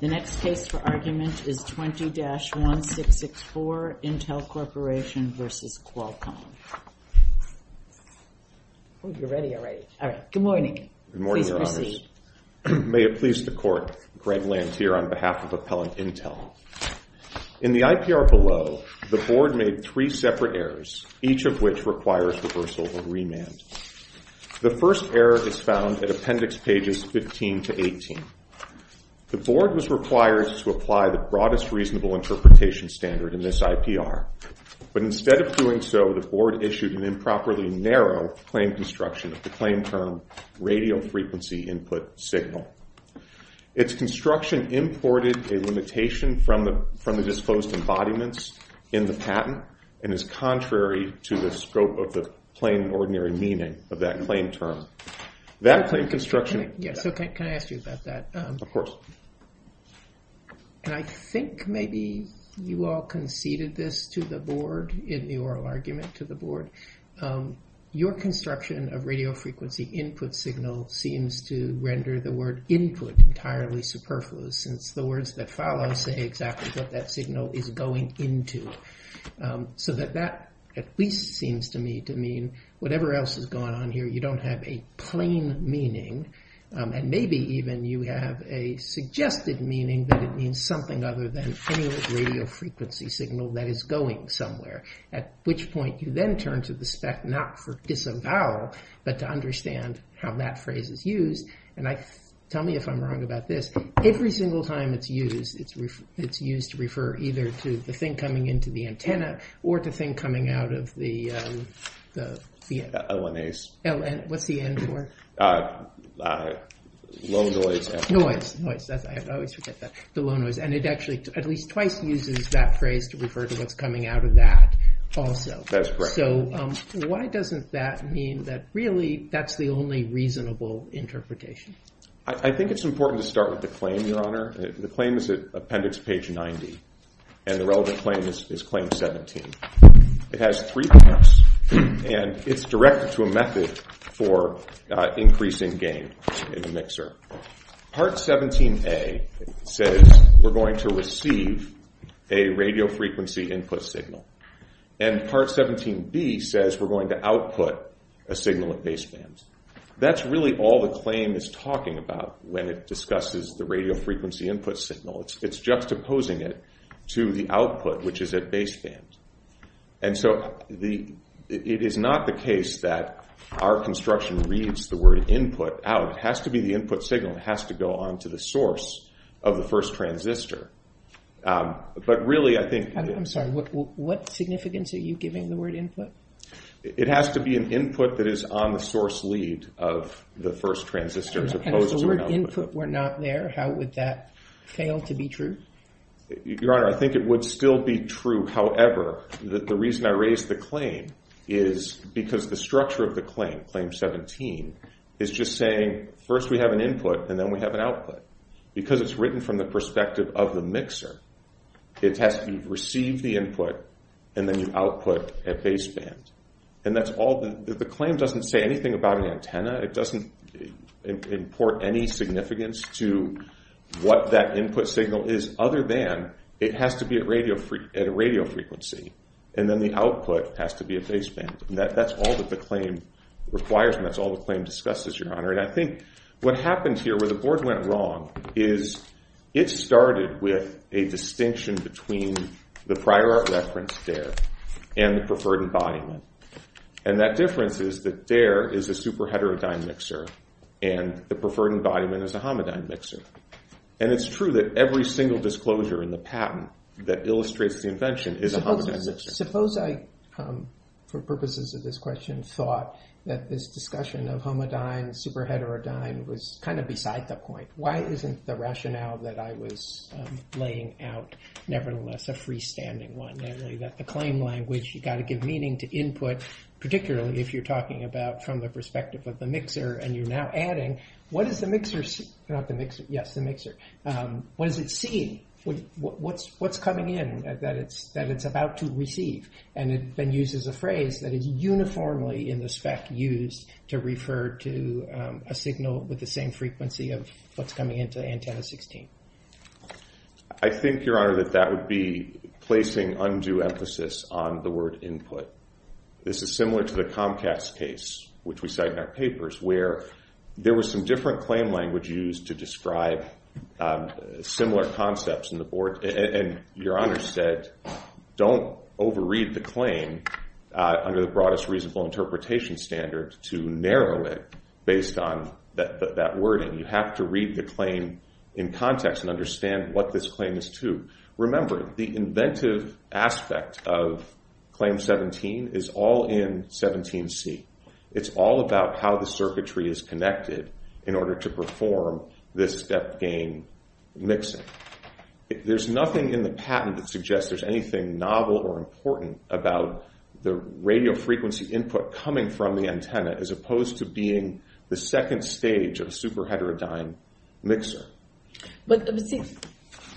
The next case for argument is 20-1664, Intel Corporation v. Qualcomm. Oh, you're ready already. Good morning. Please proceed. May it please the Court, Greg Lanthier on behalf of Appellant Intel. In the IPR below, the Board made three separate errors, each of which requires reversal or remand. The first error is found at Appendix Pages 15-18. The Board was required to apply the broadest reasonable interpretation standard in this IPR, but instead of doing so, the Board issued an improperly narrow claim construction of the claim term radial frequency input signal. Its construction imported a limitation from the disclosed embodiments in the patent and is contrary to the scope of the plain ordinary meaning of that claim term. That claim construction... Yes, so can I ask you about that? Of course. And I think maybe you all conceded this to the Board in the oral argument to the Board. Your construction of radial frequency input signal seems to render the word input entirely superfluous since the words that follow say exactly what that signal is going into. So that that at least seems to me to mean whatever else is going on here, you don't have a plain meaning, and maybe even you have a suggested meaning that it means something other than any radial frequency signal that is going somewhere, at which point you then turn to the spec not for disavowal, but to understand how that phrase is used. And tell me if I'm wrong about this. Every single time it's used, it's used to refer either to the thing coming into the antenna or to the thing coming out of the... LNAs. What's the N for? Low noise. Noise. I always forget that. The low noise. And it actually at least twice uses that phrase to refer to what's coming out of that also. That's correct. So why doesn't that mean that really that's the only reasonable interpretation? I think it's important to start with the claim, Your Honor. The claim is at appendix page 90, and the relevant claim is claim 17. It has three parts, and it's directed to a method for increasing gain in the mixer. Part 17A says we're going to receive a radial frequency input signal, and part 17B says we're going to output a signal at baseband. That's really all the claim is talking about when it discusses the radial frequency input signal. It's juxtaposing it to the output, which is at baseband. And so it is not the case that our construction reads the word input out. It has to be the input signal. It has to go on to the source of the first transistor. I'm sorry. What significance are you giving the word input? It has to be an input that is on the source lead of the first transistor as opposed to an output. And if the word input were not there, how would that fail to be true? Your Honor, I think it would still be true. However, the reason I raised the claim is because the structure of the claim, claim 17, is just saying first we have an input and then we have an output. Because it's written from the perspective of the mixer, it has to receive the input and then you output at baseband. And that's all. The claim doesn't say anything about an antenna. It doesn't import any significance to what that input signal is other than it has to be at a radial frequency, and then the output has to be at baseband. That's all that the claim requires, and that's all the claim discusses, Your Honor. And I think what happened here, where the board went wrong, is it started with a distinction between the prior art reference DARE and the preferred embodiment. And that difference is that DARE is a superheterodyne mixer and the preferred embodiment is a homodyne mixer. And it's true that every single disclosure in the patent that illustrates the invention is a homodyne mixer. Suppose I, for purposes of this question, thought that this discussion of homodyne, superheterodyne was kind of beside the point. Why isn't the rationale that I was laying out, nevertheless, a freestanding one? Namely that the claim language, you've got to give meaning to input, particularly if you're talking about from the perspective of the mixer, and you're now adding, what does the mixer see? Not the mixer. Yes, the mixer. What does it see? What's coming in that it's about to receive? And it then uses a phrase that is uniformly in the spec used to refer to a signal with the same frequency of what's coming into antenna 16. I think, Your Honor, that that would be placing undue emphasis on the word input. This is similar to the Comcast case, which we cite in our papers, where there was some different claim language used to describe similar concepts in the board, and Your Honor said don't overread the claim under the broadest reasonable interpretation standard to narrow it based on that wording. You have to read the claim in context and understand what this claim is to. Remember, the inventive aspect of Claim 17 is all in 17C. It's all about how the circuitry is connected in order to perform this step gain mixing. There's nothing in the patent that suggests there's anything novel or important about the radio frequency input coming from the antenna as opposed to being the second stage of a super heterodyne mixer. But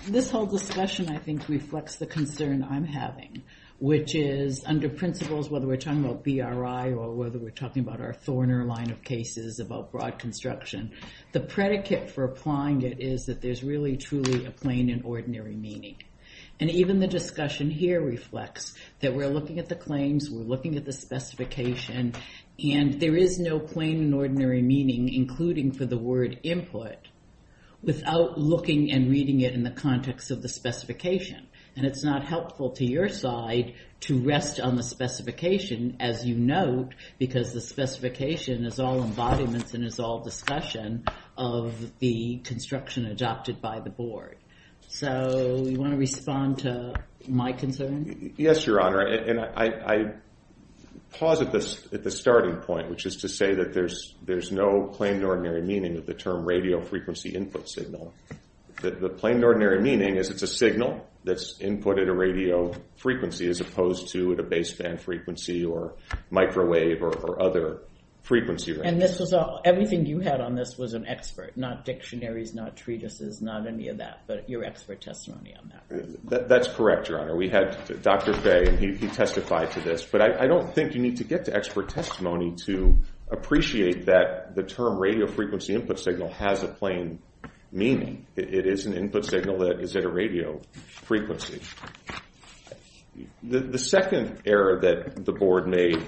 this whole discussion, I think, reflects the concern I'm having, which is under principles, whether we're talking about BRI or whether we're talking about our Thorner line of cases about broad construction, the predicate for applying it is that there's really truly a plain and ordinary meaning. And even the discussion here reflects that we're looking at the claims, we're looking at the specification, and there is no plain and ordinary meaning, including for the word input, without looking and reading it in the context of the specification. And it's not helpful to your side to rest on the specification, as you note, because the specification is all embodiments and is all discussion of the construction adopted by the board. So you want to respond to my concern? Yes, Your Honor, and I pause at the starting point, which is to say that there's no plain and ordinary meaning of the term radio frequency input signal. The plain and ordinary meaning is it's a signal that's input at a radio frequency as opposed to at a baseband frequency or microwave or other frequency range. And this was all, everything you had on this was an expert, not dictionaries, not treatises, not any of that, but your expert testimony on that. That's correct, Your Honor. We had Dr. Fay, and he testified to this. But I don't think you need to get to expert testimony to appreciate that the term radio frequency input signal has a plain meaning. It is an input signal that is at a radio frequency. The second error that the board made,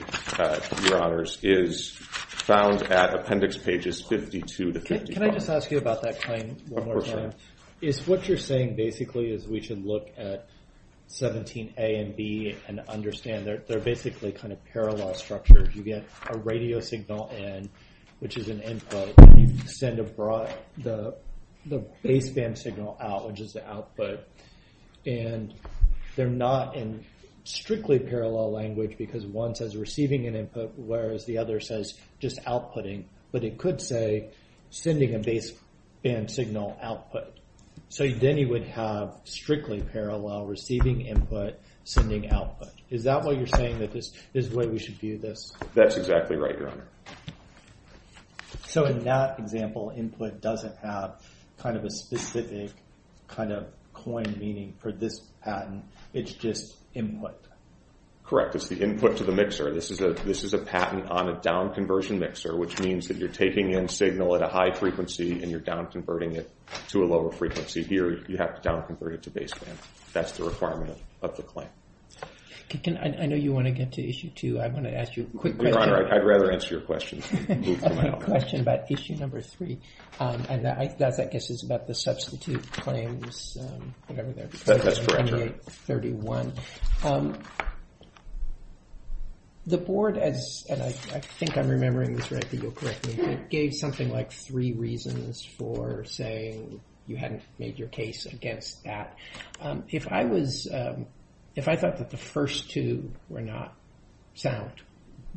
Your Honors, is found at appendix pages 52 to 51. Can I just ask you about that claim one more time? Of course, sir. Is what you're saying basically is we should look at 17A and B and understand they're basically kind of parallel structure. You get a radio signal in, which is an input, and you send the baseband signal out, which is the output. And they're not in strictly parallel language because one says receiving an input, whereas the other says just outputting. But it could say sending a baseband signal output. So then you would have strictly parallel receiving input, sending output. Is that what you're saying, that this is the way we should view this? That's exactly right, Your Honor. So in that example, input doesn't have kind of a specific kind of coined meaning for this patent. It's just input. Correct. It's the input to the mixer. This is a patent on a down-conversion mixer, which means that you're taking in signal at a high frequency and you're down-converting it to a lower frequency. Here, you have to down-convert it to baseband. That's the requirement of the claim. I know you want to get to issue two. I want to ask you a quick question. Your Honor, I'd rather answer your question. I have a question about issue number three. I guess it's about the substitute claims, whatever they're called. That's correct, Your Honor. 2831. The board, and I think I'm remembering this right, that you'll correct me, gave something like three reasons for saying you hadn't made your case against that. If I thought that the first two were not sound,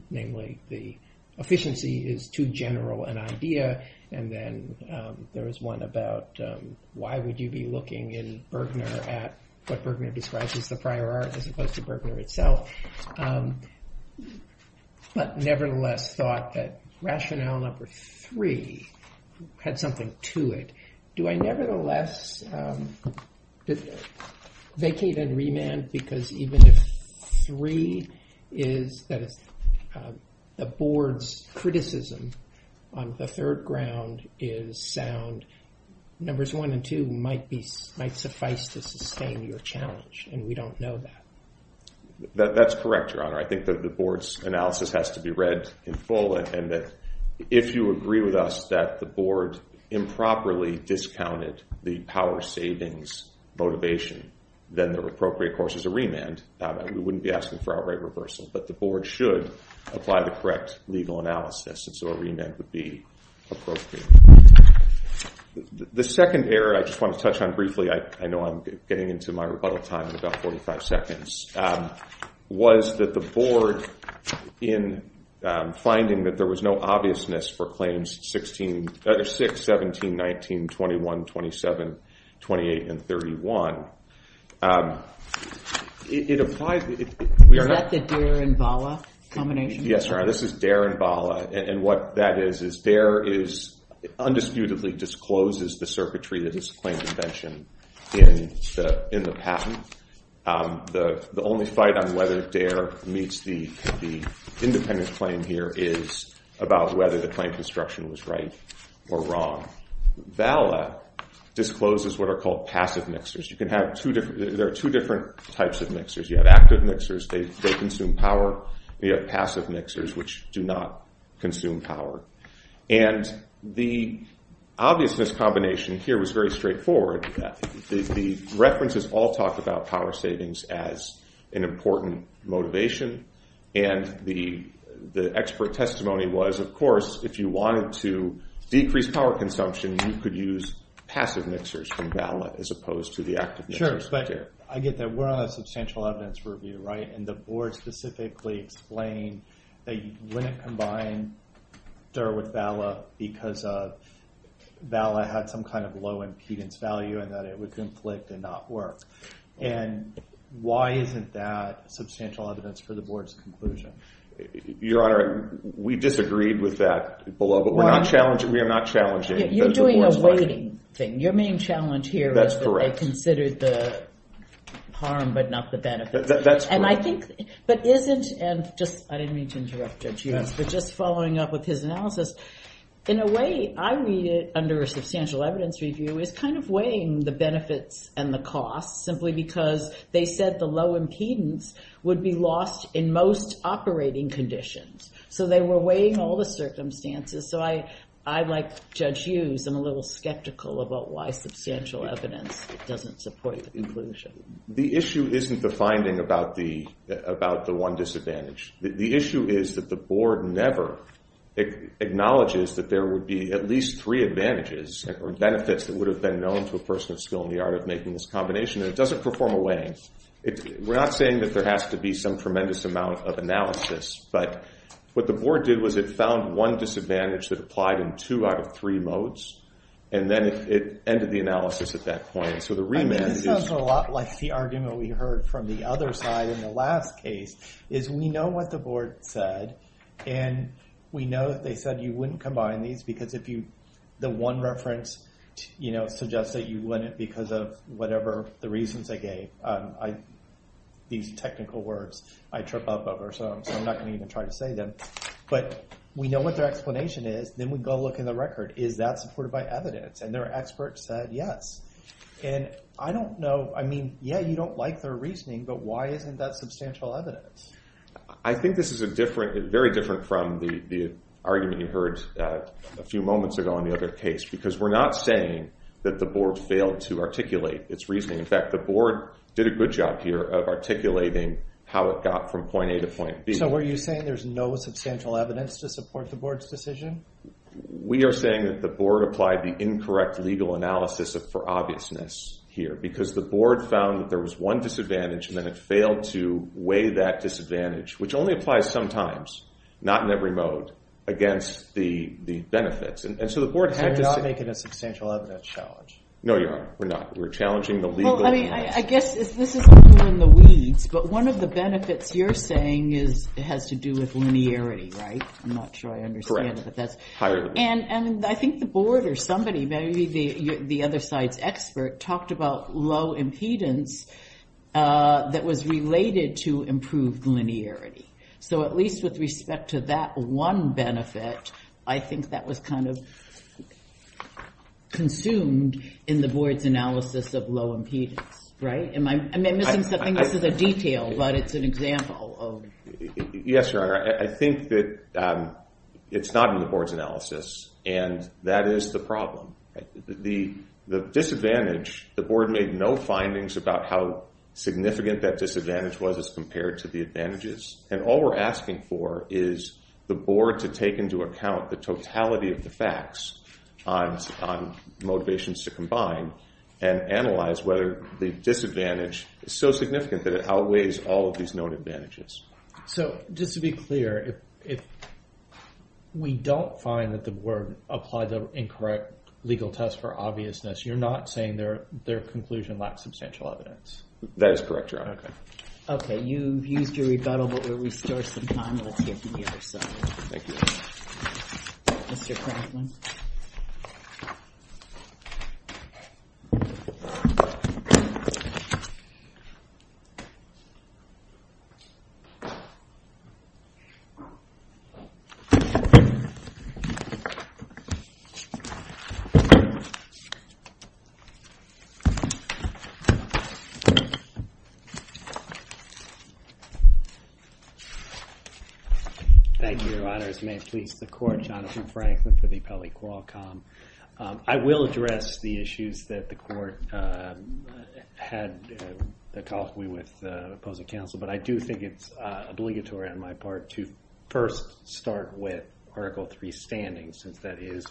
namely the efficiency is too general an idea, and then there was one about why would you be looking in Bergner at what Bergner describes as the prior art as opposed to Bergner itself, but nevertheless thought that rationale number three had something to it, do I nevertheless vacate and remand because even if three is the board's criticism on the third ground is sound, numbers one and two might suffice to sustain your challenge, and we don't know that. That's correct, Your Honor. I think that the board's analysis has to be read in full, and that if you agree with us that the board improperly discounted the power savings motivation, then the appropriate course is a remand. We wouldn't be asking for outright reversal, but the board should apply the correct legal analysis, and so a remand would be appropriate. The second error I just want to touch on briefly, I know I'm getting into my rebuttal time in about 45 seconds, was that the board in finding that there was no obviousness for claims 6, 17, 19, 21, 27, 28, and 31. Is that the Dare and Bala combination? Yes, Your Honor. This is Dare and Bala, and what that is is Dare undisputedly discloses the circuitry that is claim convention in the patent. The only fight on whether Dare meets the independent claim here is about whether the claim construction was right or wrong. Bala discloses what are called passive mixers. There are two different types of mixers. You have active mixers. They consume power. You have passive mixers, which do not consume power, and the obviousness combination here was very straightforward. The references all talk about power savings as an important motivation, and the expert testimony was, of course, if you wanted to decrease power consumption, you could use passive mixers from Bala as opposed to the active mixers from Dare. Sure, but I get that. We're on a substantial evidence review, right, and the board specifically explained that you wouldn't combine Dare with Bala because Bala had some kind of low impedance value and that it would conflict and not work, and why isn't that substantial evidence for the board's conclusion? Your Honor, we disagreed with that below, but we are not challenging. You're doing a weighting thing. Your main challenge here is that they considered the harm but not the benefits. That's correct. I didn't mean to interrupt Judge Hughes, but just following up with his analysis, in a way, I read it under a substantial evidence review as kind of weighing the benefits and the costs simply because they said the low impedance would be lost in most operating conditions, so they were weighing all the circumstances, so I, like Judge Hughes, am a little skeptical about why substantial evidence doesn't support the conclusion. The issue isn't the finding about the one disadvantage. The issue is that the board never acknowledges that there would be at least three advantages or benefits that would have been known to a person of skill in the art of making this combination, and it doesn't perform a weighing. We're not saying that there has to be some tremendous amount of analysis, but what the board did was it found one disadvantage that applied in two out of three modes, and then it ended the analysis at that point. I think it sounds a lot like the argument we heard from the other side in the last case, is we know what the board said, and we know that they said you wouldn't combine these because the one reference suggests that you wouldn't because of whatever the reasons they gave. These technical words I trip up over, so I'm not going to even try to say them, but we know what their explanation is, then we go look in the record. Is that supported by evidence? And their expert said yes. And I don't know. I mean, yeah, you don't like their reasoning, but why isn't that substantial evidence? I think this is very different from the argument you heard a few moments ago in the other case because we're not saying that the board failed to articulate its reasoning. In fact, the board did a good job here of articulating how it got from point A to point B. So were you saying there's no substantial evidence to support the board's decision? We are saying that the board applied the incorrect legal analysis for obviousness here because the board found that there was one disadvantage, and then it failed to weigh that disadvantage, which only applies sometimes, not in every mode, against the benefits. And so the board had to say. We're not making a substantial evidence challenge. No, you are. We're not. We're challenging the legal evidence. Well, I mean, I guess this is all in the weeds, but one of the benefits you're saying has to do with linearity, right? I'm not sure I understand it. Correct. And I think the board or somebody, maybe the other side's expert, talked about low impedance that was related to improved linearity. So at least with respect to that one benefit, I think that was kind of consumed in the board's analysis of low impedance, right? Am I missing something? This is a detail, but it's an example. Yes, Your Honor. I think that it's not in the board's analysis, and that is the problem. The disadvantage, the board made no findings about how significant that disadvantage was as compared to the advantages, and all we're asking for is the board to take into account the totality of the facts on motivations to combine and analyze whether the disadvantage is so Just to be clear, if we don't find that the board applied the incorrect legal test for obviousness, you're not saying their conclusion lacks substantial evidence? That is correct, Your Honor. Okay. Okay, you've used your rebuttal, but we'll restore some time. Let's get to the other side. Thank you. Mr. Franklin. Thank you, Your Honors. May it please the court, Jonathan Franklin for the Pelli Qualcomm. I will address the issues that the court had that caught me with the opposing counsel, but I do think it's obligatory on my part to first start with Article III standings, since that is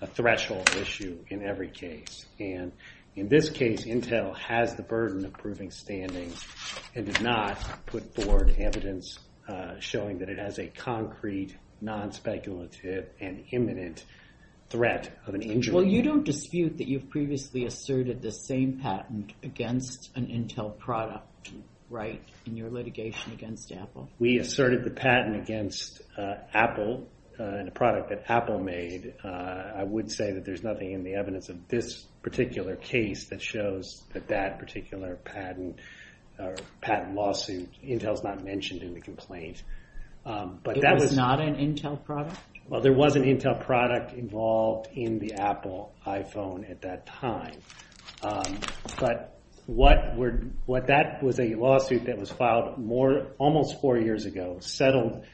a threshold issue in every case. And in this case, Intel has the burden of proving standings, and did not put forward evidence showing that it has a concrete, non-speculative, and imminent threat of an injury. Well, you don't dispute that you've previously asserted the same patent against an Intel product, right, in your litigation against Apple? We asserted the patent against Apple and a product that Apple made. I would say that there's nothing in the evidence of this particular case that shows that that particular patent lawsuit, Intel's not mentioned in the complaint. It was not an Intel product? Well, there was an Intel product involved in the Apple iPhone at that time. But that was a lawsuit that was filed almost four years ago, settled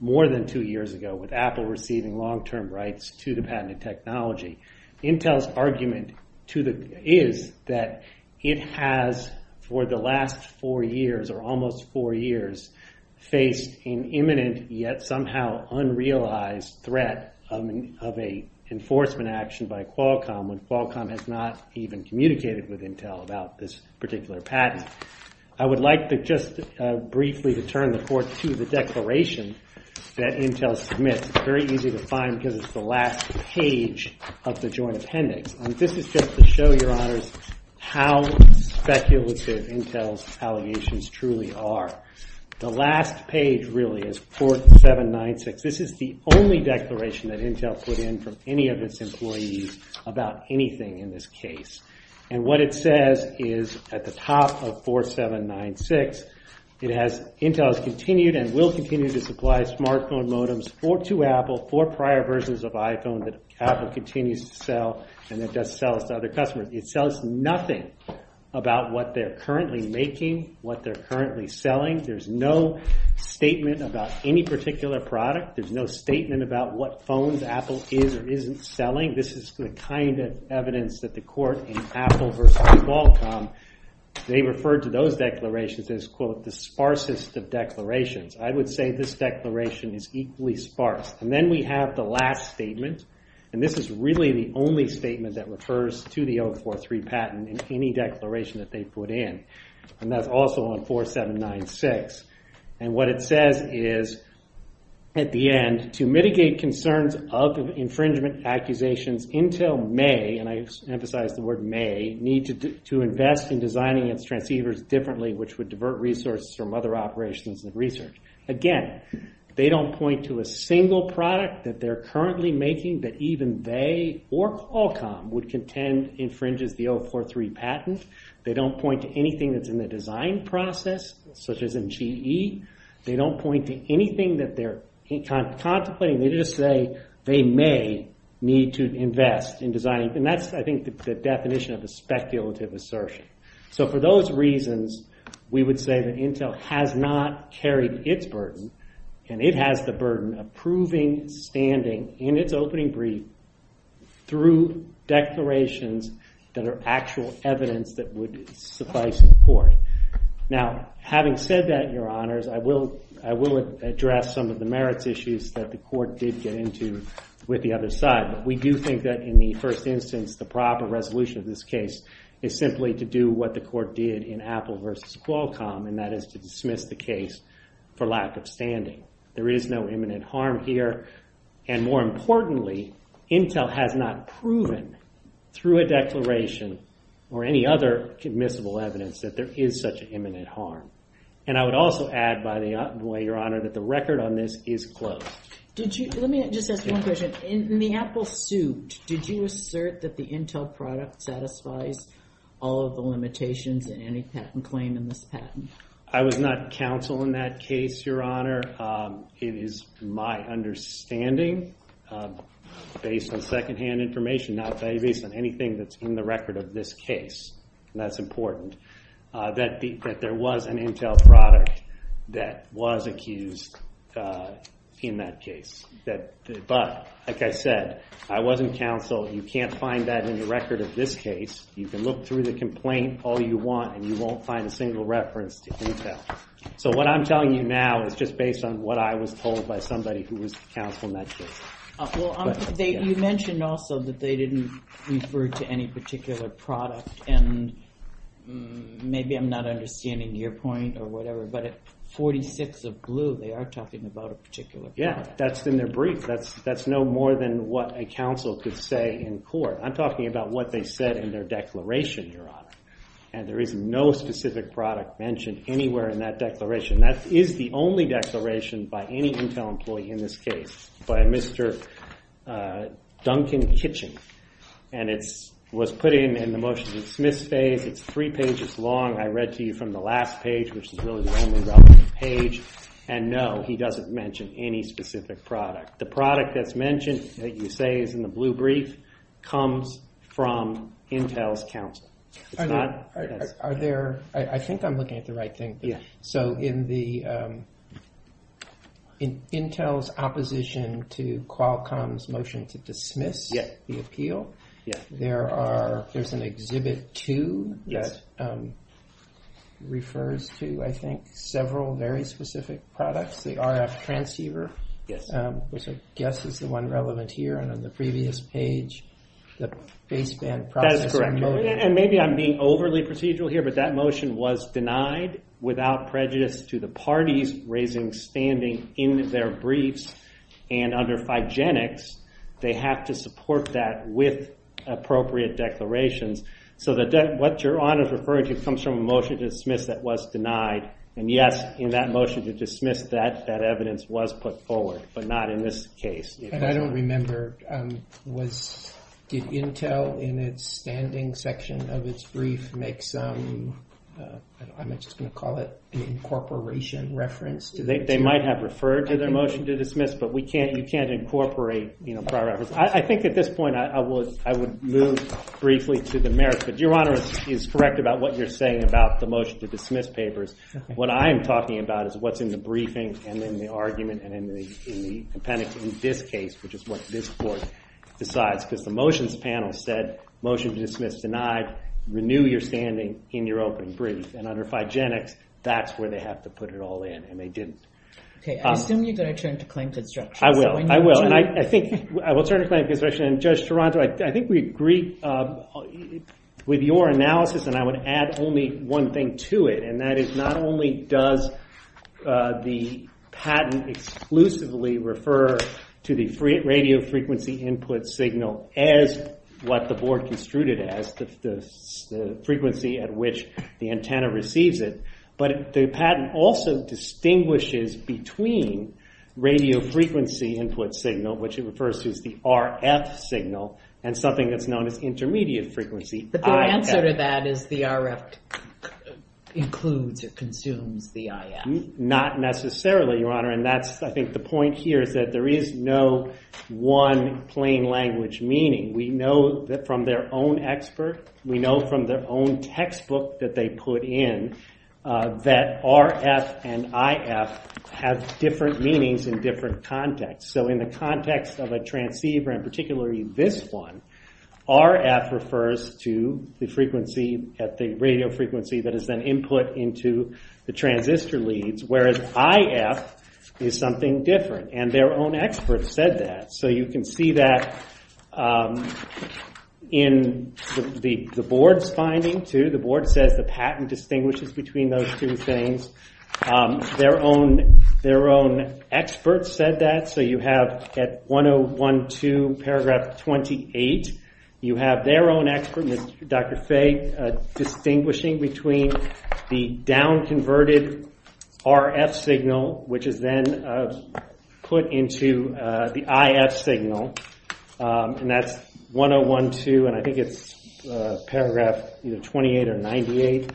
more than two years ago with Apple receiving long-term rights to the patented technology. Intel's argument is that it has, for the last four years or almost four years, faced an imminent yet somehow unrealized threat of an enforcement action by Apple, not even communicated with Intel about this particular patent. I would like to just briefly return the court to the declaration that Intel submits. It's very easy to find because it's the last page of the joint appendix. This is just to show your honors how speculative Intel's allegations truly are. The last page really is 4796. This is the only declaration that Intel put in from any of its employees about anything in this case. And what it says is at the top of 4796, it has Intel's continued and will continue to supply smartphone modems to Apple for prior versions of iPhone that Apple continues to sell and it does sell to other customers. It sells nothing about what they're currently making, what they're currently selling. There's no statement about any particular product. There's no statement about what phones Apple is or isn't selling. This is the kind of evidence that the court in Apple versus Qualcomm, they referred to those declarations as quote, the sparsest of declarations. I would say this declaration is equally sparse. And then we have the last statement and this is really the only statement that refers to the 043 patent in any declaration that they put in. And that's also on 4796. And what it says is at the end, to mitigate concerns of infringement accusations, Intel may, and I emphasize the word may, need to invest in designing its transceivers differently, which would divert resources from other operations and research. Again, they don't point to a single product that they're currently making that even they or Qualcomm would contend infringes the 043 patent. They don't point to anything that's in the design process, such as in GE. They don't point to anything that they're contemplating. They just say they may need to invest in designing. And that's, I think the definition of the speculative assertion. So for those reasons, we would say that Intel has not carried its burden and it has the burden of proving standing in its opening brief through declarations that are actual evidence that would suffice in court. Now, having said that your honors, I will, I will address some of the merits issues that the court did get into with the other side. But we do think that in the first instance, the proper resolution of this case is simply to do what the court did in Apple versus Qualcomm. And that is to dismiss the case for lack of standing. There is no imminent harm here. And more importantly, Intel has not proven through a declaration or any other admissible evidence that there is such an imminent harm. And I would also add by the way, your honor, that the record on this is closed. Let me just ask you one question. In the Apple suit, did you assert that the Intel product satisfies all of the limitations in any patent claim in this patent? I was not counsel in that case, your honor. It is my understanding based on secondhand information, not based on anything that's in the record of this case. And that's important that there was an Intel product that was accused in that case. But like I said, I wasn't counsel. You can't find that in the record of this case. You can look through the complaint all you want and you won't find a single reference to Intel. So what I'm telling you now is just based on what I was told by somebody who was counsel in that case. You mentioned also that they didn't refer to any particular product and maybe I'm not understanding your point or whatever, but at 46 of blue they are talking about a particular product. Yeah, that's in their brief. That's no more than what a counsel could say in court. I'm talking about what they said in their declaration, your honor. And there is no specific product mentioned anywhere in that declaration. That is the only declaration by any Intel employee in this case by Mr. Duncan Kitchen. And it was put in the motion to dismiss phase. It's three pages long. I read to you from the last page, which is really the only relevant page. And no, he doesn't mention any specific product. The product that's mentioned that you say is in the blue brief comes from Intel's counsel. I think I'm looking at the right thing. So in the Intel's opposition to Qualcomm's motion to dismiss the appeal, there's an exhibit two that refers to, I think, several very specific products. The RF transceiver, which I guess is the one relevant here. And on the previous page, the baseband processor. That is correct. And maybe I'm being overly procedural here, but that motion was denied without prejudice to the parties raising standing in their briefs. And under Figenics, they have to support that with appropriate declarations. So what your honor is referring to comes from a motion to dismiss that was denied. And yes, in that motion to dismiss that, that evidence was put forward, but not in this case. And I don't remember, did Intel in its standing section of its brief make some, I'm just going to call it an incorporation reference. They might have referred to their motion to dismiss, but you can't incorporate prior reference. I think at this point I would move briefly to the merits, but your honor is correct about what you're saying about the motion to dismiss papers. What I am talking about is what's in the briefing and in the argument and in this case, which is what this court decides, because the motions panel said motion to dismiss denied, renew your standing in your open brief. And under Figenics, that's where they have to put it all in. And they didn't. Okay. I assume you're going to turn to claim construction. I will. I will. And I think I will turn to claim construction. And Judge Toronto, I think we agree with your analysis and I would add only one thing to it. And that is not only does the patent exclusively refer to the radio frequency input signal as what the board construed it as the frequency at which the antenna receives it, but the patent also distinguishes between radio frequency input signal, which it refers to as the RF signal and something that's known as intermediate frequency. But the answer to that is the RF includes or consumes the IF. Not necessarily, Your Honor. And that's I think the point here is that there is no one plain language meaning. We know that from their own expert, we know from their own textbook that they put in that RF and IF have different meanings in different contexts. So in the context of a transceiver and particularly this one, RF refers to the frequency at the radio frequency that is then input into the transistor leads. Whereas IF is something different and their own experts said that. So you can see that in the board's finding too. The board says the patent distinguishes between those two things. Their own experts said that. So you have at 1012 paragraph 28, you have their own expert, Dr. Fay distinguishing between the down converted RF signal, which is then put into the IF signal. And that's 1012. And I think it's paragraph 28 or 98.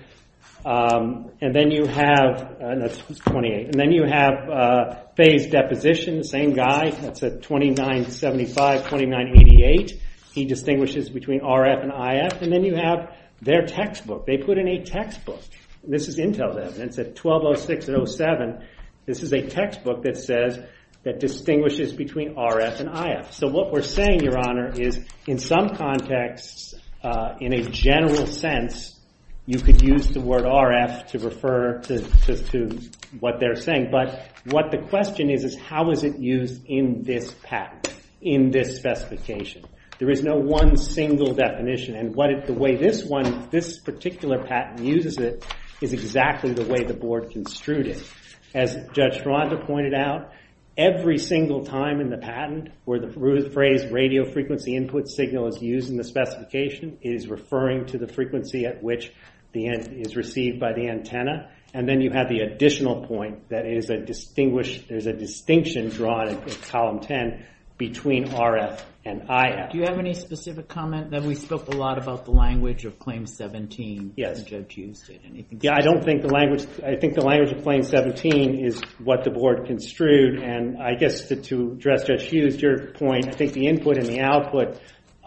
And then you have, and that's 28. And then you have Fay's deposition, the same guy that's at 2975, 2988. He distinguishes between RF and IF. And then you have their textbook. They put in a textbook. This is Intel evidence at 1206 and 07. This is a textbook that says that distinguishes between RF and IF. So what we're saying, Your Honor, is in some contexts, in a general sense, you could use the word RF to refer to what they're saying. But what the question is, is how is it used in this patent, in this specification? There is no one single definition. And the way this one, this particular patent uses it, is exactly the way the board construed it. As Judge Ronda pointed out, every single time in the patent where the phrase radio frequency input signal is used in the specification, it is referring to the frequency at which it is received by the antenna. And then you have the additional point, that there's a distinction drawn in column 10 between RF and IF. Do you have any specific comment? We spoke a lot about the language of Claim 17. Yes. I don't think the language, I think the language of Claim 17 is what the board construed. And I guess to address Judge Hughes, your point, I think the input and the output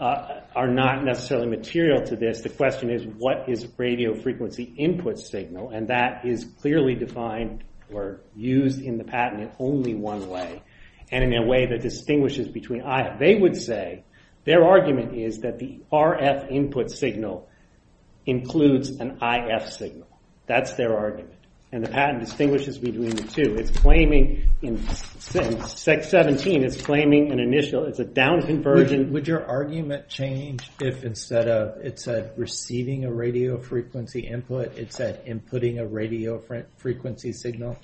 are not necessarily material to this. The question is, what is radio frequency input signal? And that is clearly defined or used in the patent in only one way. And in a way that distinguishes between IF. They would say, their argument is that the RF input signal includes an IF signal. That's their argument. And the patent distinguishes between the two. Claim 17 is claiming an initial. It's a down conversion. Would your argument change if instead of it said, receiving a radio frequency input, it said inputting a radio frequency signal?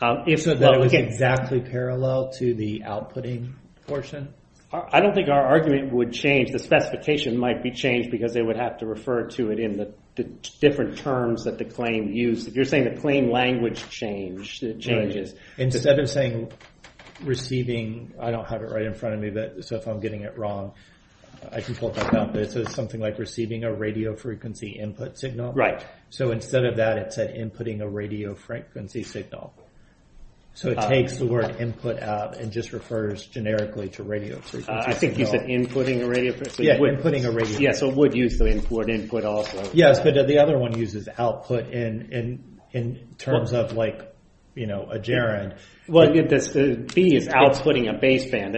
So that it was exactly parallel to the outputting portion? I don't think our argument would change. The specification might be changed because they would have to refer to it in the different terms that the claim used. You're saying the claim language changes. Instead of saying receiving, I don't have it right in front of me. So if I'm getting it wrong, I can pull it back up. It says something like receiving a radio frequency input signal. Right. So instead of that, it said inputting a radio frequency signal. So it takes the word input out and just refers generically to radio frequency signal. I think you said inputting a radio frequency signal. Yeah, inputting a radio frequency signal. So it would use the word input also. Yes, but the other one uses output in terms of like a gerund. The B is outputting a baseband.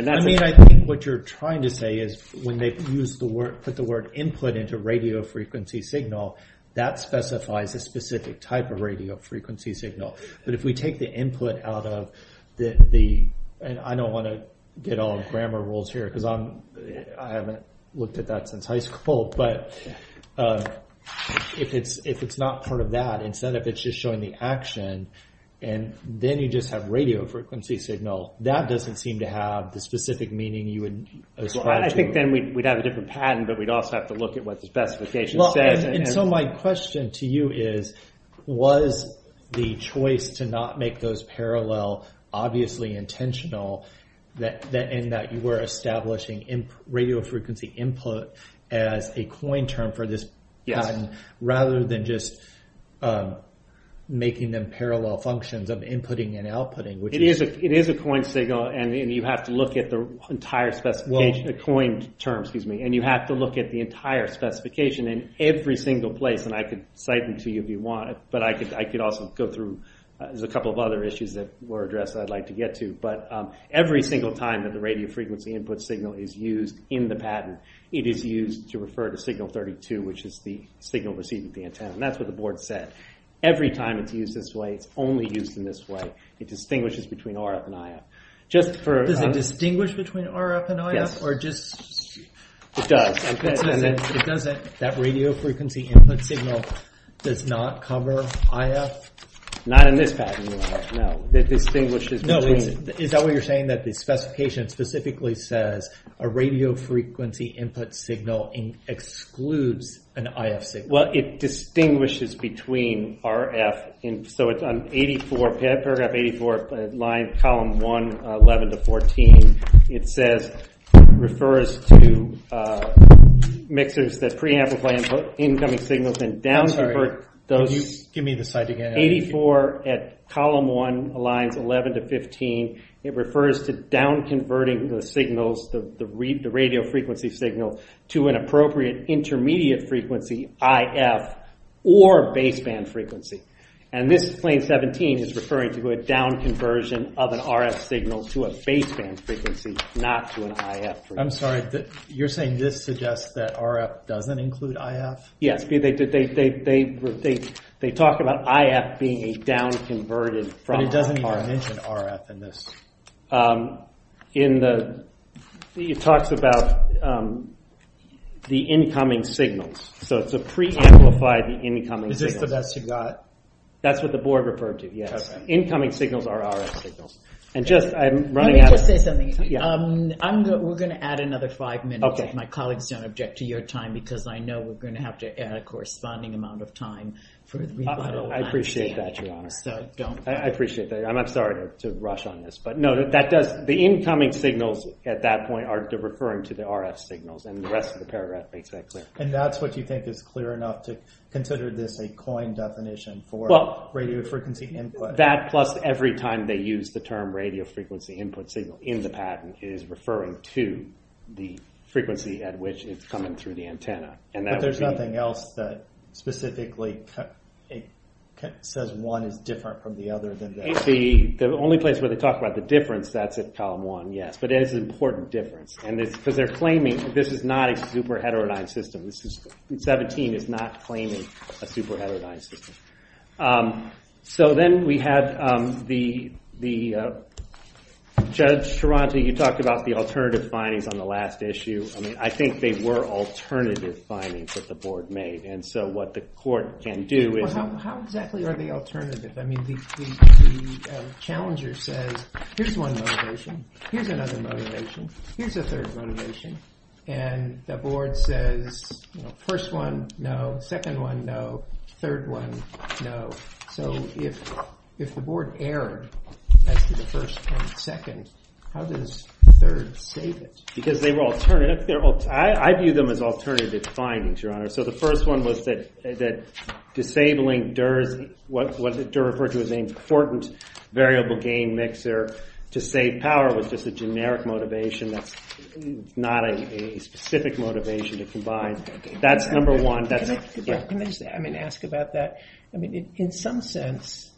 I think what you're trying to say is when they put the word input into radio frequency signal, that specifies a specific type of radio frequency signal. But if we take the input out of the – and I don't want to get all grammar rules here because I haven't looked at that since high school. But if it's not part of that, instead if it's just showing the action, and then you just have radio frequency signal, that doesn't seem to have the specific meaning you would ascribe to it. Well, I think then we'd have a different pattern, but we'd also have to look at what the specification says. So my question to you is was the choice to not make those parallel obviously intentional in that you were establishing radio frequency input as a coined term for this pattern, rather than just making them parallel functions of inputting and outputting, which is – It is a coined signal, and you have to look at the entire specification – Well – A coined term, excuse me. And you have to look at the entire specification in every single place. And I could cite them to you if you want, but I could also go through – there's a couple of other issues that were addressed that I'd like to get to. But every single time that the radio frequency input signal is used in the pattern, it is used to refer to signal 32, which is the signal receiving the antenna. And that's what the board said. Every time it's used this way, it's only used in this way. It distinguishes between RF and IF. Just for – Does it distinguish between RF and IF? Yes. Or just – It does. It doesn't – that radio frequency input signal does not cover IF? Not in this pattern, no. It distinguishes between – No. Is that what you're saying, that the specification specifically says a radio frequency input signal excludes an IF signal? Well, it distinguishes between RF. So it's on 84, paragraph 84, line column 1, 11 to 14, it says – refers to mixers that preamplify incoming signals and down – I'm sorry. Can you give me the site again? 84 at column 1, lines 11 to 15, it refers to down-converting the signals, the radio frequency signal, to an appropriate intermediate frequency, IF, or baseband frequency. And this, plane 17, is referring to a down-conversion of an RF signal to a baseband frequency, not to an IF. I'm sorry. You're saying this suggests that RF doesn't include IF? Yes. They talk about IF being a down-converted from RF. But it doesn't even mention RF in this. In the – it talks about the incoming signals. So it's a preamplified incoming signal. Is this the best you've got? That's what the board referred to, yes. Okay. Incoming signals are RF signals. And just – I'm running out of time. Let me just say something. Yeah. We're going to add another five minutes. Okay. My colleagues don't object to your time because I know we're going to have to add a corresponding amount of time for the rebuttal. I appreciate that, Your Honor. So don't – I appreciate that. I'm sorry to rush on this. But, no, that does – the incoming signals at that point are referring to the RF signals. And the rest of the paragraph makes that clear. And that's what you think is clear enough to consider this a coin definition for radio frequency input? That plus every time they use the term radio frequency input signal in the patent is referring to the frequency at which it's coming through the antenna. But there's nothing else that specifically says one is different from the other than that. The only place where they talk about the difference, that's at column one, yes. But it is an important difference because they're claiming this is not a super heterodyne system. This is – 17 is not claiming a super heterodyne system. So then we have the – Judge Toronto, you talked about the alternative findings on the last issue. I mean I think they were alternative findings that the board made. And so what the court can do is – Well, how exactly are they alternative? I mean the challenger says here's one motivation, here's another motivation, here's a third motivation. And the board says first one, no. Second one, no. Third one, no. So if the board erred as to the first and second, how does the third save it? Because they were alternative. I view them as alternative findings, Your Honor. So the first one was that disabling DER's – what DER referred to as an important variable gain mixer to save power was just a generic motivation. That's not a specific motivation to combine. That's number one. Can I ask about that? I mean in some sense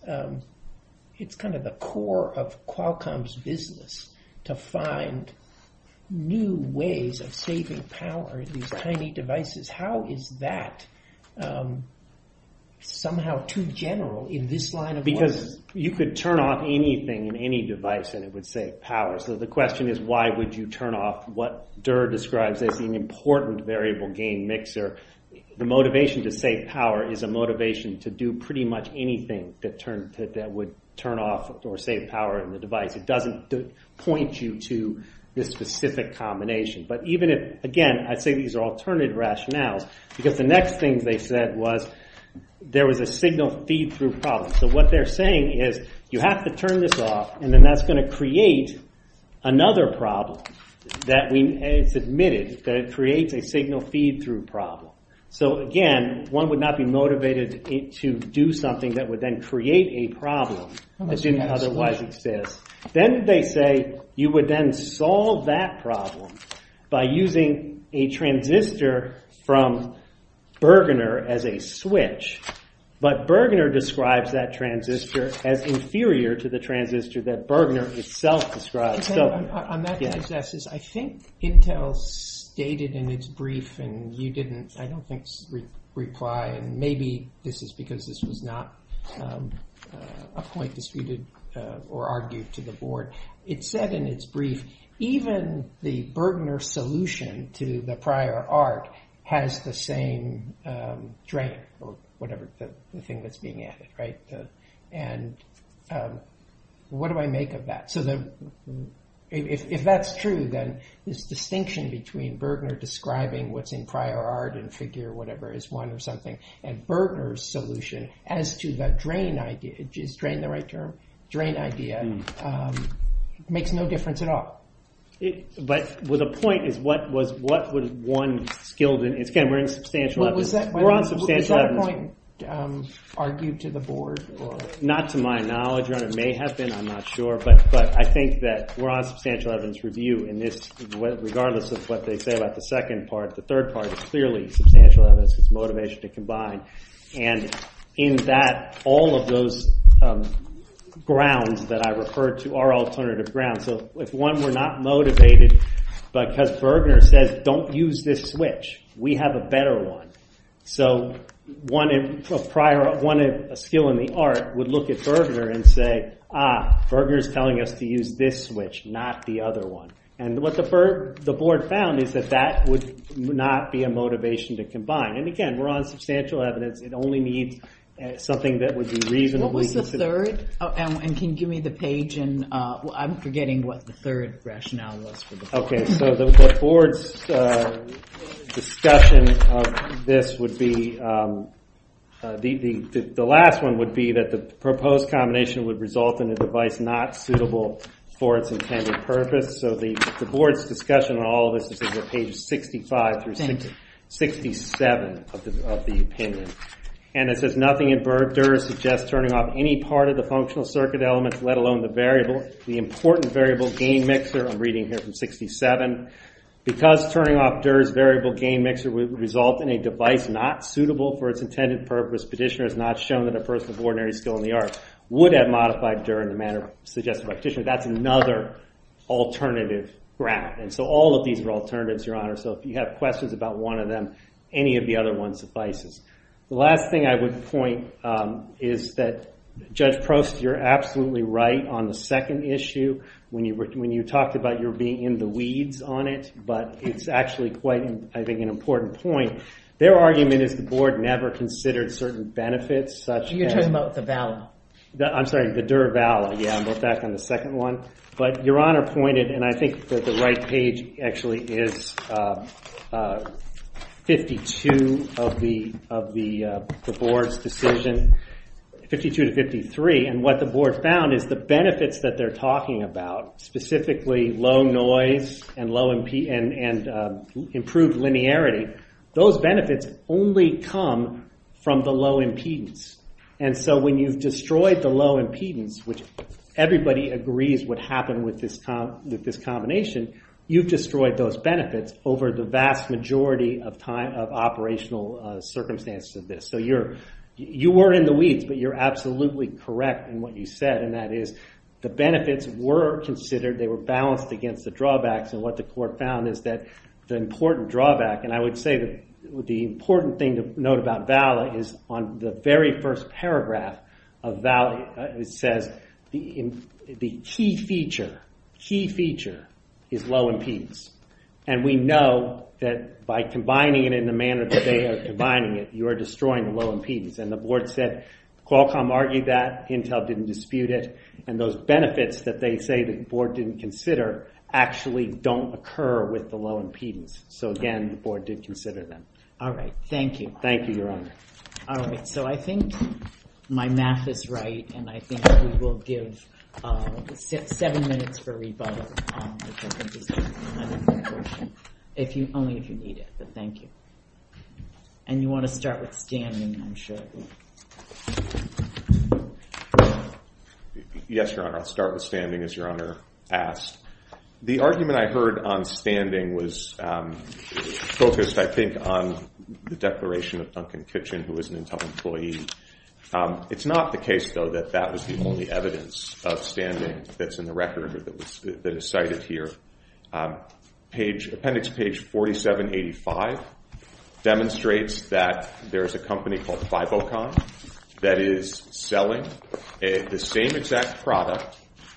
it's kind of the core of Qualcomm's business to find new ways of saving power in these tiny devices. How is that somehow too general in this line of work? Because you could turn off anything and any device and it would save power. So the question is why would you turn off what DER describes as an important variable gain mixer? The motivation to save power is a motivation to do pretty much anything that would turn off or save power in the device. It doesn't point you to this specific combination. But even if – again, I'd say these are alternative rationales because the next thing they said was there was a signal feed-through problem. So what they're saying is you have to turn this off and then that's going to create another problem. It's admitted that it creates a signal feed-through problem. So again, one would not be motivated to do something that would then create a problem that didn't otherwise exist. Then they say you would then solve that problem by using a transistor from Bergener as a switch. But Bergener describes that transistor as inferior to the transistor that Bergener itself describes. I think Intel stated in its brief and you didn't, I don't think, reply. Maybe this is because this was not a point disputed or argued to the board. It said in its brief even the Bergener solution to the prior art has the same drain or whatever the thing that's being added. What do I make of that? If that's true, then this distinction between Bergener describing what's in prior art and figure whatever is one or something and Bergener's solution as to the drain idea, is drain the right term? Drain idea makes no difference at all. But the point is what was one skilled, again we're on substantial evidence. Was that a point argued to the board? Not to my knowledge, it may have been, I'm not sure. But I think that we're on substantial evidence review in this regardless of what they say about the second part. The third part is clearly substantial evidence motivation to combine. And in that, all of those grounds that I referred to are alternative grounds. So if one were not motivated because Bergener says don't use this switch, we have a better one. So a skill in the art would look at Bergener and say, ah, Bergener's telling us to use this switch, not the other one. And what the board found is that that would not be a motivation to combine. And again, we're on substantial evidence. It only needs something that would be reasonable. What was the third? And can you give me the page? I'm forgetting what the third rationale was for the board. Okay, so the board's discussion of this would be, the last one would be that the proposed combination would result in a device not suitable for its intended purpose. So the board's discussion on all of this is on pages 65 through 67 of the opinion. And it says, nothing in DERS suggests turning off any part of the functional circuit elements, let alone the important variable gain mixer. I'm reading here from 67. Because turning off DERS variable gain mixer would result in a device not suitable for its intended purpose, petitioner has not shown that a person of ordinary skill in the art would have modified DERS in the manner suggested by petitioner. That's another alternative graph. And so all of these are alternatives, Your Honor. So if you have questions about one of them, any of the other ones suffices. The last thing I would point is that Judge Prost, you're absolutely right on the second issue. When you talked about your being in the weeds on it, but it's actually quite, I think, an important point. Their argument is the board never considered certain benefits such as— You're talking about the VALA. I'm sorry, the DERR VALA. Yeah, I'm going back on the second one. But Your Honor pointed, and I think that the right page actually is 52 of the board's decision, 52 to 53. And what the board found is the benefits that they're talking about, specifically low noise and improved linearity, those benefits only come from the low impedance. And so when you've destroyed the low impedance, which everybody agrees would happen with this combination, you've destroyed those benefits over the vast majority of operational circumstances of this. So you were in the weeds, but you're absolutely correct in what you said, and that is the benefits were considered. They were balanced against the drawbacks, and what the court found is that the important drawback— The very first paragraph of VALA says the key feature is low impedance, and we know that by combining it in the manner that they are combining it, you are destroying the low impedance. And the board said Qualcomm argued that, Intel didn't dispute it, and those benefits that they say the board didn't consider actually don't occur with the low impedance. So again, the board did consider them. All right, thank you. Thank you, Your Honor. All right. So I think my math is right, and I think we will give seven minutes for rebuttal. If you—only if you need it, but thank you. And you want to start with standing, I'm sure. Yes, Your Honor. I'll start with standing, as Your Honor asked. The argument I heard on standing was focused, I think, on the declaration of Duncan Kitchen, who was an Intel employee. It's not the case, though, that that was the only evidence of standing that's in the record that is cited here. Appendix page 4785 demonstrates that there is a company called Vibocon that is selling the same exact product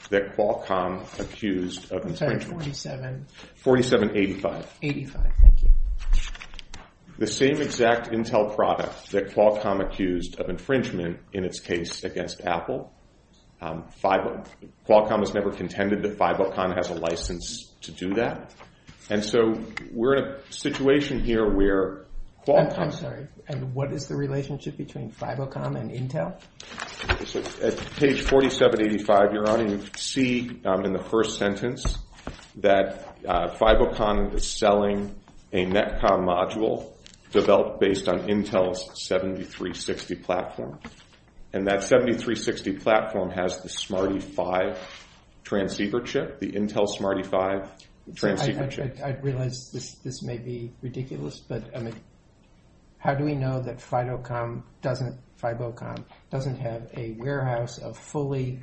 that Qualcomm accused of infringement. I'm sorry, 47— 4785. 85, thank you. The same exact Intel product that Qualcomm accused of infringement in its case against Apple. Qualcomm has never contended that Vibocon has a license to do that. And so we're in a situation here where Qualcomm— I'm sorry, and what is the relationship between Vibocon and Intel? Page 4785, Your Honor. You see in the first sentence that Vibocon is selling a Netcom module developed based on Intel's 7360 platform. And that 7360 platform has the Smart E5 transceiver chip, the Intel Smart E5 transceiver chip. I realize this may be ridiculous, but how do we know that Vibocon doesn't have a warehouse of fully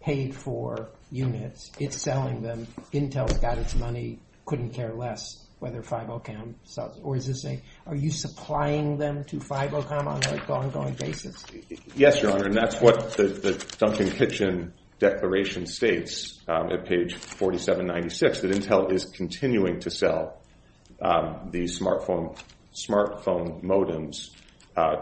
paid-for units? It's selling them. Intel's got its money, couldn't care less whether Vibocon— or is this a—are you supplying them to Vibocon on an ongoing basis? Yes, Your Honor, and that's what the Dunkin' Kitchen declaration states at page 4796, that Intel is continuing to sell these smartphone modems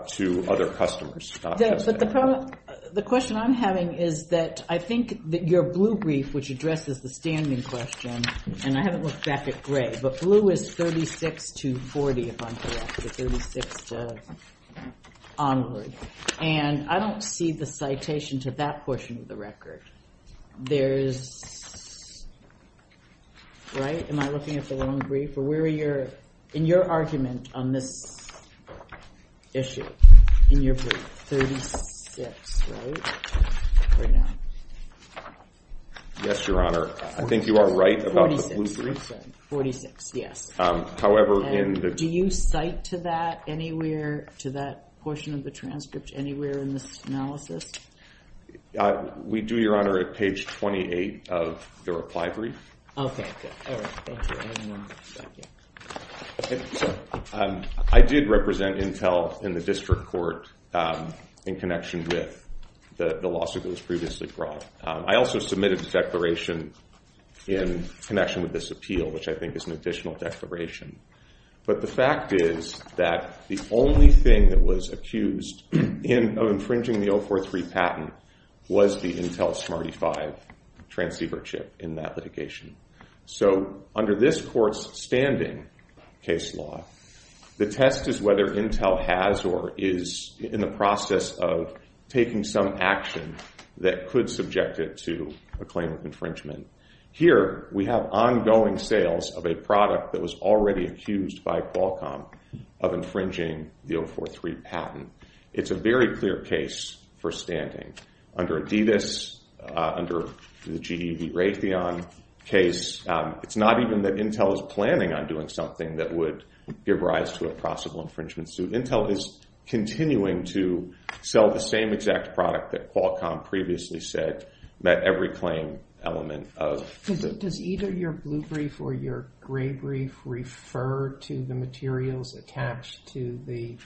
to other customers. But the question I'm having is that I think that your blue brief, which addresses the standing question, and I haven't looked back at gray, but blue is 36 to 40, if I'm correct, or 36 onward. And I don't see the citation to that portion of the record. There's—right? Am I looking at the long brief? Where are your—in your argument on this issue, in your brief, 36, right? Or no? Yes, Your Honor. I think you are right about the blue brief. 46. 46, yes. However, in the— Do you cite to that anywhere, to that portion of the transcript anywhere in this analysis? We do, Your Honor, at page 28 of the reply brief. Okay, good. All right. Thank you. I did represent Intel in the district court in connection with the lawsuit that was previously brought. I also submitted a declaration in connection with this appeal, which I think is an additional declaration. But the fact is that the only thing that was accused of infringing the 043 patent was the Intel Smarty 5 transceiver chip in that litigation. So under this court's standing case law, the test is whether Intel has or is in the process of taking some action that could subject it to a claim of infringement. Here, we have ongoing sales of a product that was already accused by Qualcomm of infringing the 043 patent. It's a very clear case for standing. Under Adidas, under the GED Raytheon case, it's not even that Intel is planning on doing something that would give rise to a possible infringement suit. Intel is continuing to sell the same exact product that Qualcomm previously said met every claim element. Does either your blue brief or your gray brief refer to the materials attached to the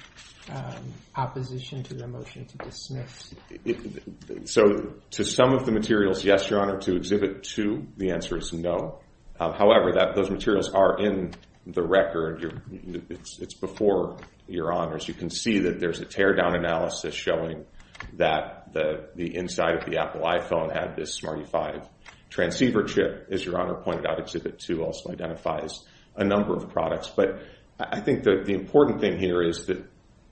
opposition to the motion to dismiss? So to some of the materials, yes, Your Honor. To exhibit to, the answer is no. However, those materials are in the record. It's before your honors. You can see that there's a teardown analysis showing that the inside of the Apple iPhone had this Smarty 5 transceiver chip, as Your Honor pointed out. Exhibit 2 also identifies a number of products. But I think that the important thing here is that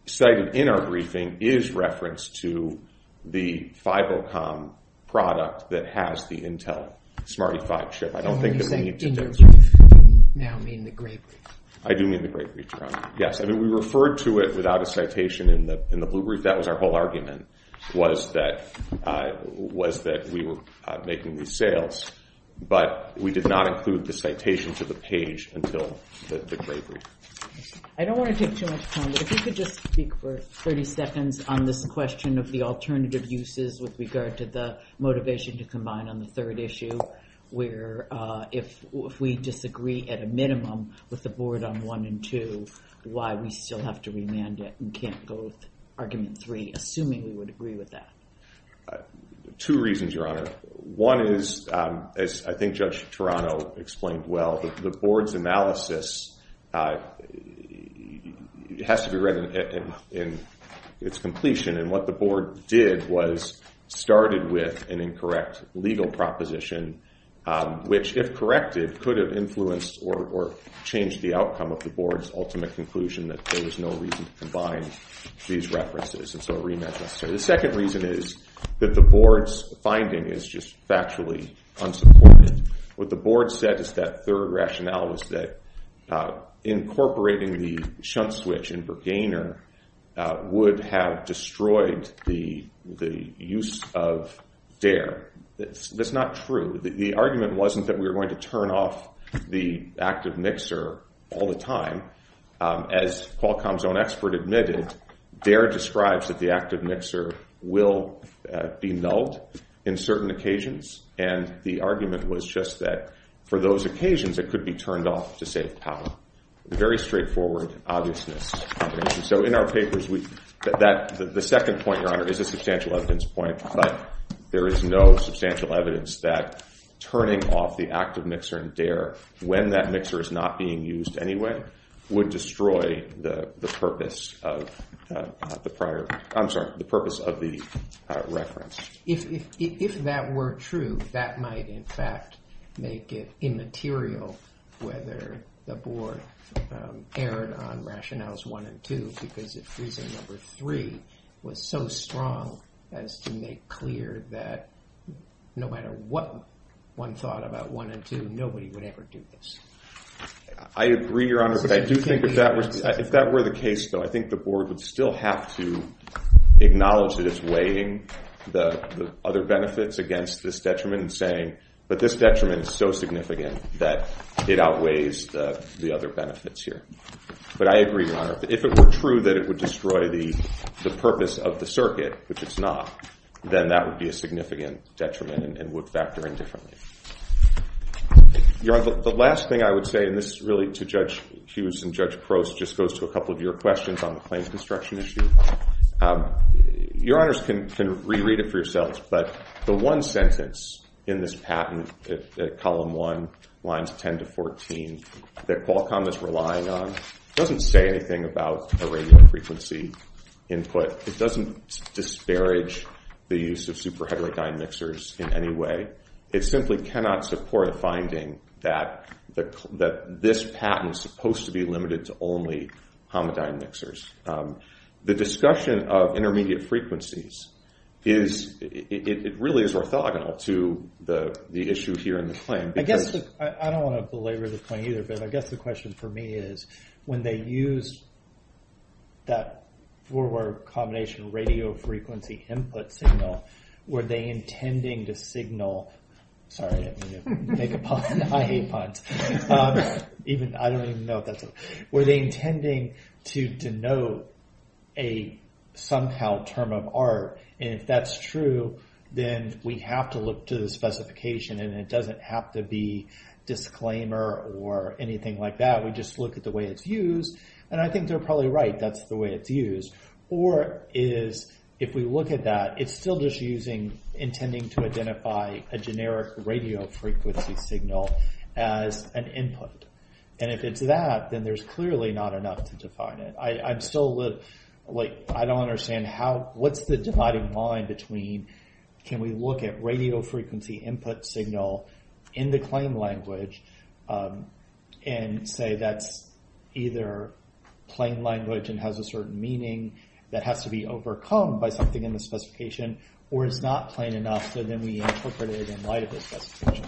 cited in our briefing is reference to the Fibrocom product that has the Intel Smarty 5 chip. I do mean the gray brief, Your Honor. Yes, I mean we referred to it without a citation in the blue brief. That was our whole argument was that we were making these sales. But we did not include the citation to the page until the gray brief. I don't want to take too much time, but if you could just speak for 30 seconds on this question of the alternative uses with regard to the motivation to combine on the third issue. Where if we disagree at a minimum with the board on one and two, why we still have to remand it and can't go with argument three, assuming we would agree with that. Two reasons, Your Honor. One is, as I think Judge Toronto explained well, the board's analysis has to be read in its completion. And what the board did was started with an incorrect legal proposition, which if corrected, could have influenced or changed the outcome of the board's ultimate conclusion that there was no reason to combine these references. And so a rematch is necessary. The second reason is that the board's finding is just factually unsupported. What the board said is that third rationale was that incorporating the shunt switch in Berganer would have destroyed the use of DARE. That's not true. The argument wasn't that we were going to turn off the active mixer all the time. As Qualcomm's own expert admitted, DARE describes that the active mixer will be nulled in certain occasions. And the argument was just that for those occasions, it could be turned off to save power. Very straightforward obviousness. So in our papers, the second point, Your Honor, is a substantial evidence point. But there is no substantial evidence that turning off the active mixer in DARE when that mixer is not being used anyway would destroy the purpose of the reference. If that were true, that might, in fact, make it immaterial whether the board erred on rationales one and two, because if reason number three was so strong as to make clear that no matter what one thought about one and two, nobody would ever do this. I agree, Your Honor. But I do think if that were the case, though, I think the board would still have to acknowledge that it's weighing the other benefits against this detriment and saying, but this detriment is so significant that it outweighs the other benefits here. But I agree, Your Honor. If it were true that it would destroy the purpose of the circuit, which it's not, then that would be a significant detriment and would factor in differently. Your Honor, the last thing I would say, and this is really to Judge Hughes and Judge Prost, just goes to a couple of your questions on the claim construction issue. Your Honors can reread it for yourselves, but the one sentence in this patent at column one, lines 10 to 14, that Qualcomm is relying on doesn't say anything about a radio frequency input. It doesn't disparage the use of superheterodyne mixers in any way. It simply cannot support a finding that this patent is supposed to be limited to only homodyne mixers. The discussion of intermediate frequencies is – it really is orthogonal to the issue here in the claim. I guess – I don't want to belabor this point either, but I guess the question for me is when they use that forward combination radio frequency input signal, were they intending to signal – sorry, I didn't mean to make a pun. I hate puns. I don't even know if that's a – were they intending to denote a somehow term of art? And if that's true, then we have to look to the specification, and it doesn't have to be disclaimer or anything like that. We just look at the way it's used, and I think they're probably right. Or is – if we look at that, it's still just using – intending to identify a generic radio frequency signal as an input. And if it's that, then there's clearly not enough to define it. I'm still – I don't understand how – what's the dividing line between can we look at radio frequency input signal in the claim language and say that's either plain language and has a certain meaning that has to be overcome by something in the specification, or it's not plain enough, and then we interpret it in light of the specification?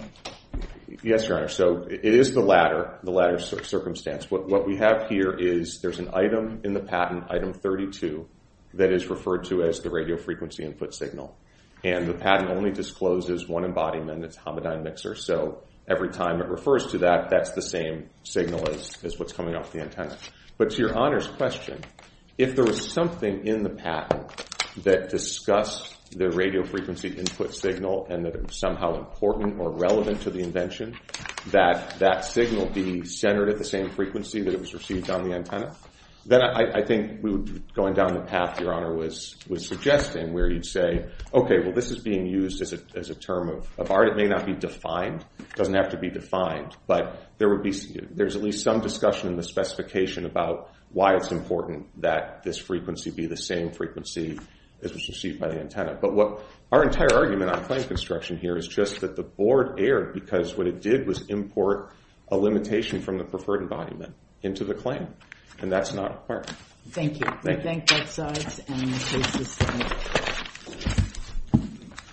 Yes, Your Honor. So it is the latter, the latter circumstance. What we have here is there's an item in the patent, item 32, that is referred to as the radio frequency input signal. And the patent only discloses one embodiment. It's homodyne mixer. So every time it refers to that, that's the same signal as what's coming off the antenna. But to Your Honor's question, if there was something in the patent that discussed the radio frequency input signal and that it was somehow important or relevant to the invention, that that signal be centered at the same frequency that it was received on the antenna, then I think we would – going down the path Your Honor was suggesting where you'd say, okay, well, this is being used as a term of art. It may not be defined. It doesn't have to be defined. But there would be – there's at least some discussion in the specification about why it's important that this frequency be the same frequency as was received by the antenna. But what – our entire argument on claim construction here is just that the board erred because what it did was import a limitation from the preferred embodiment into the claim. And that's not required. Thank you. Thank you. We thank both sides. And this is –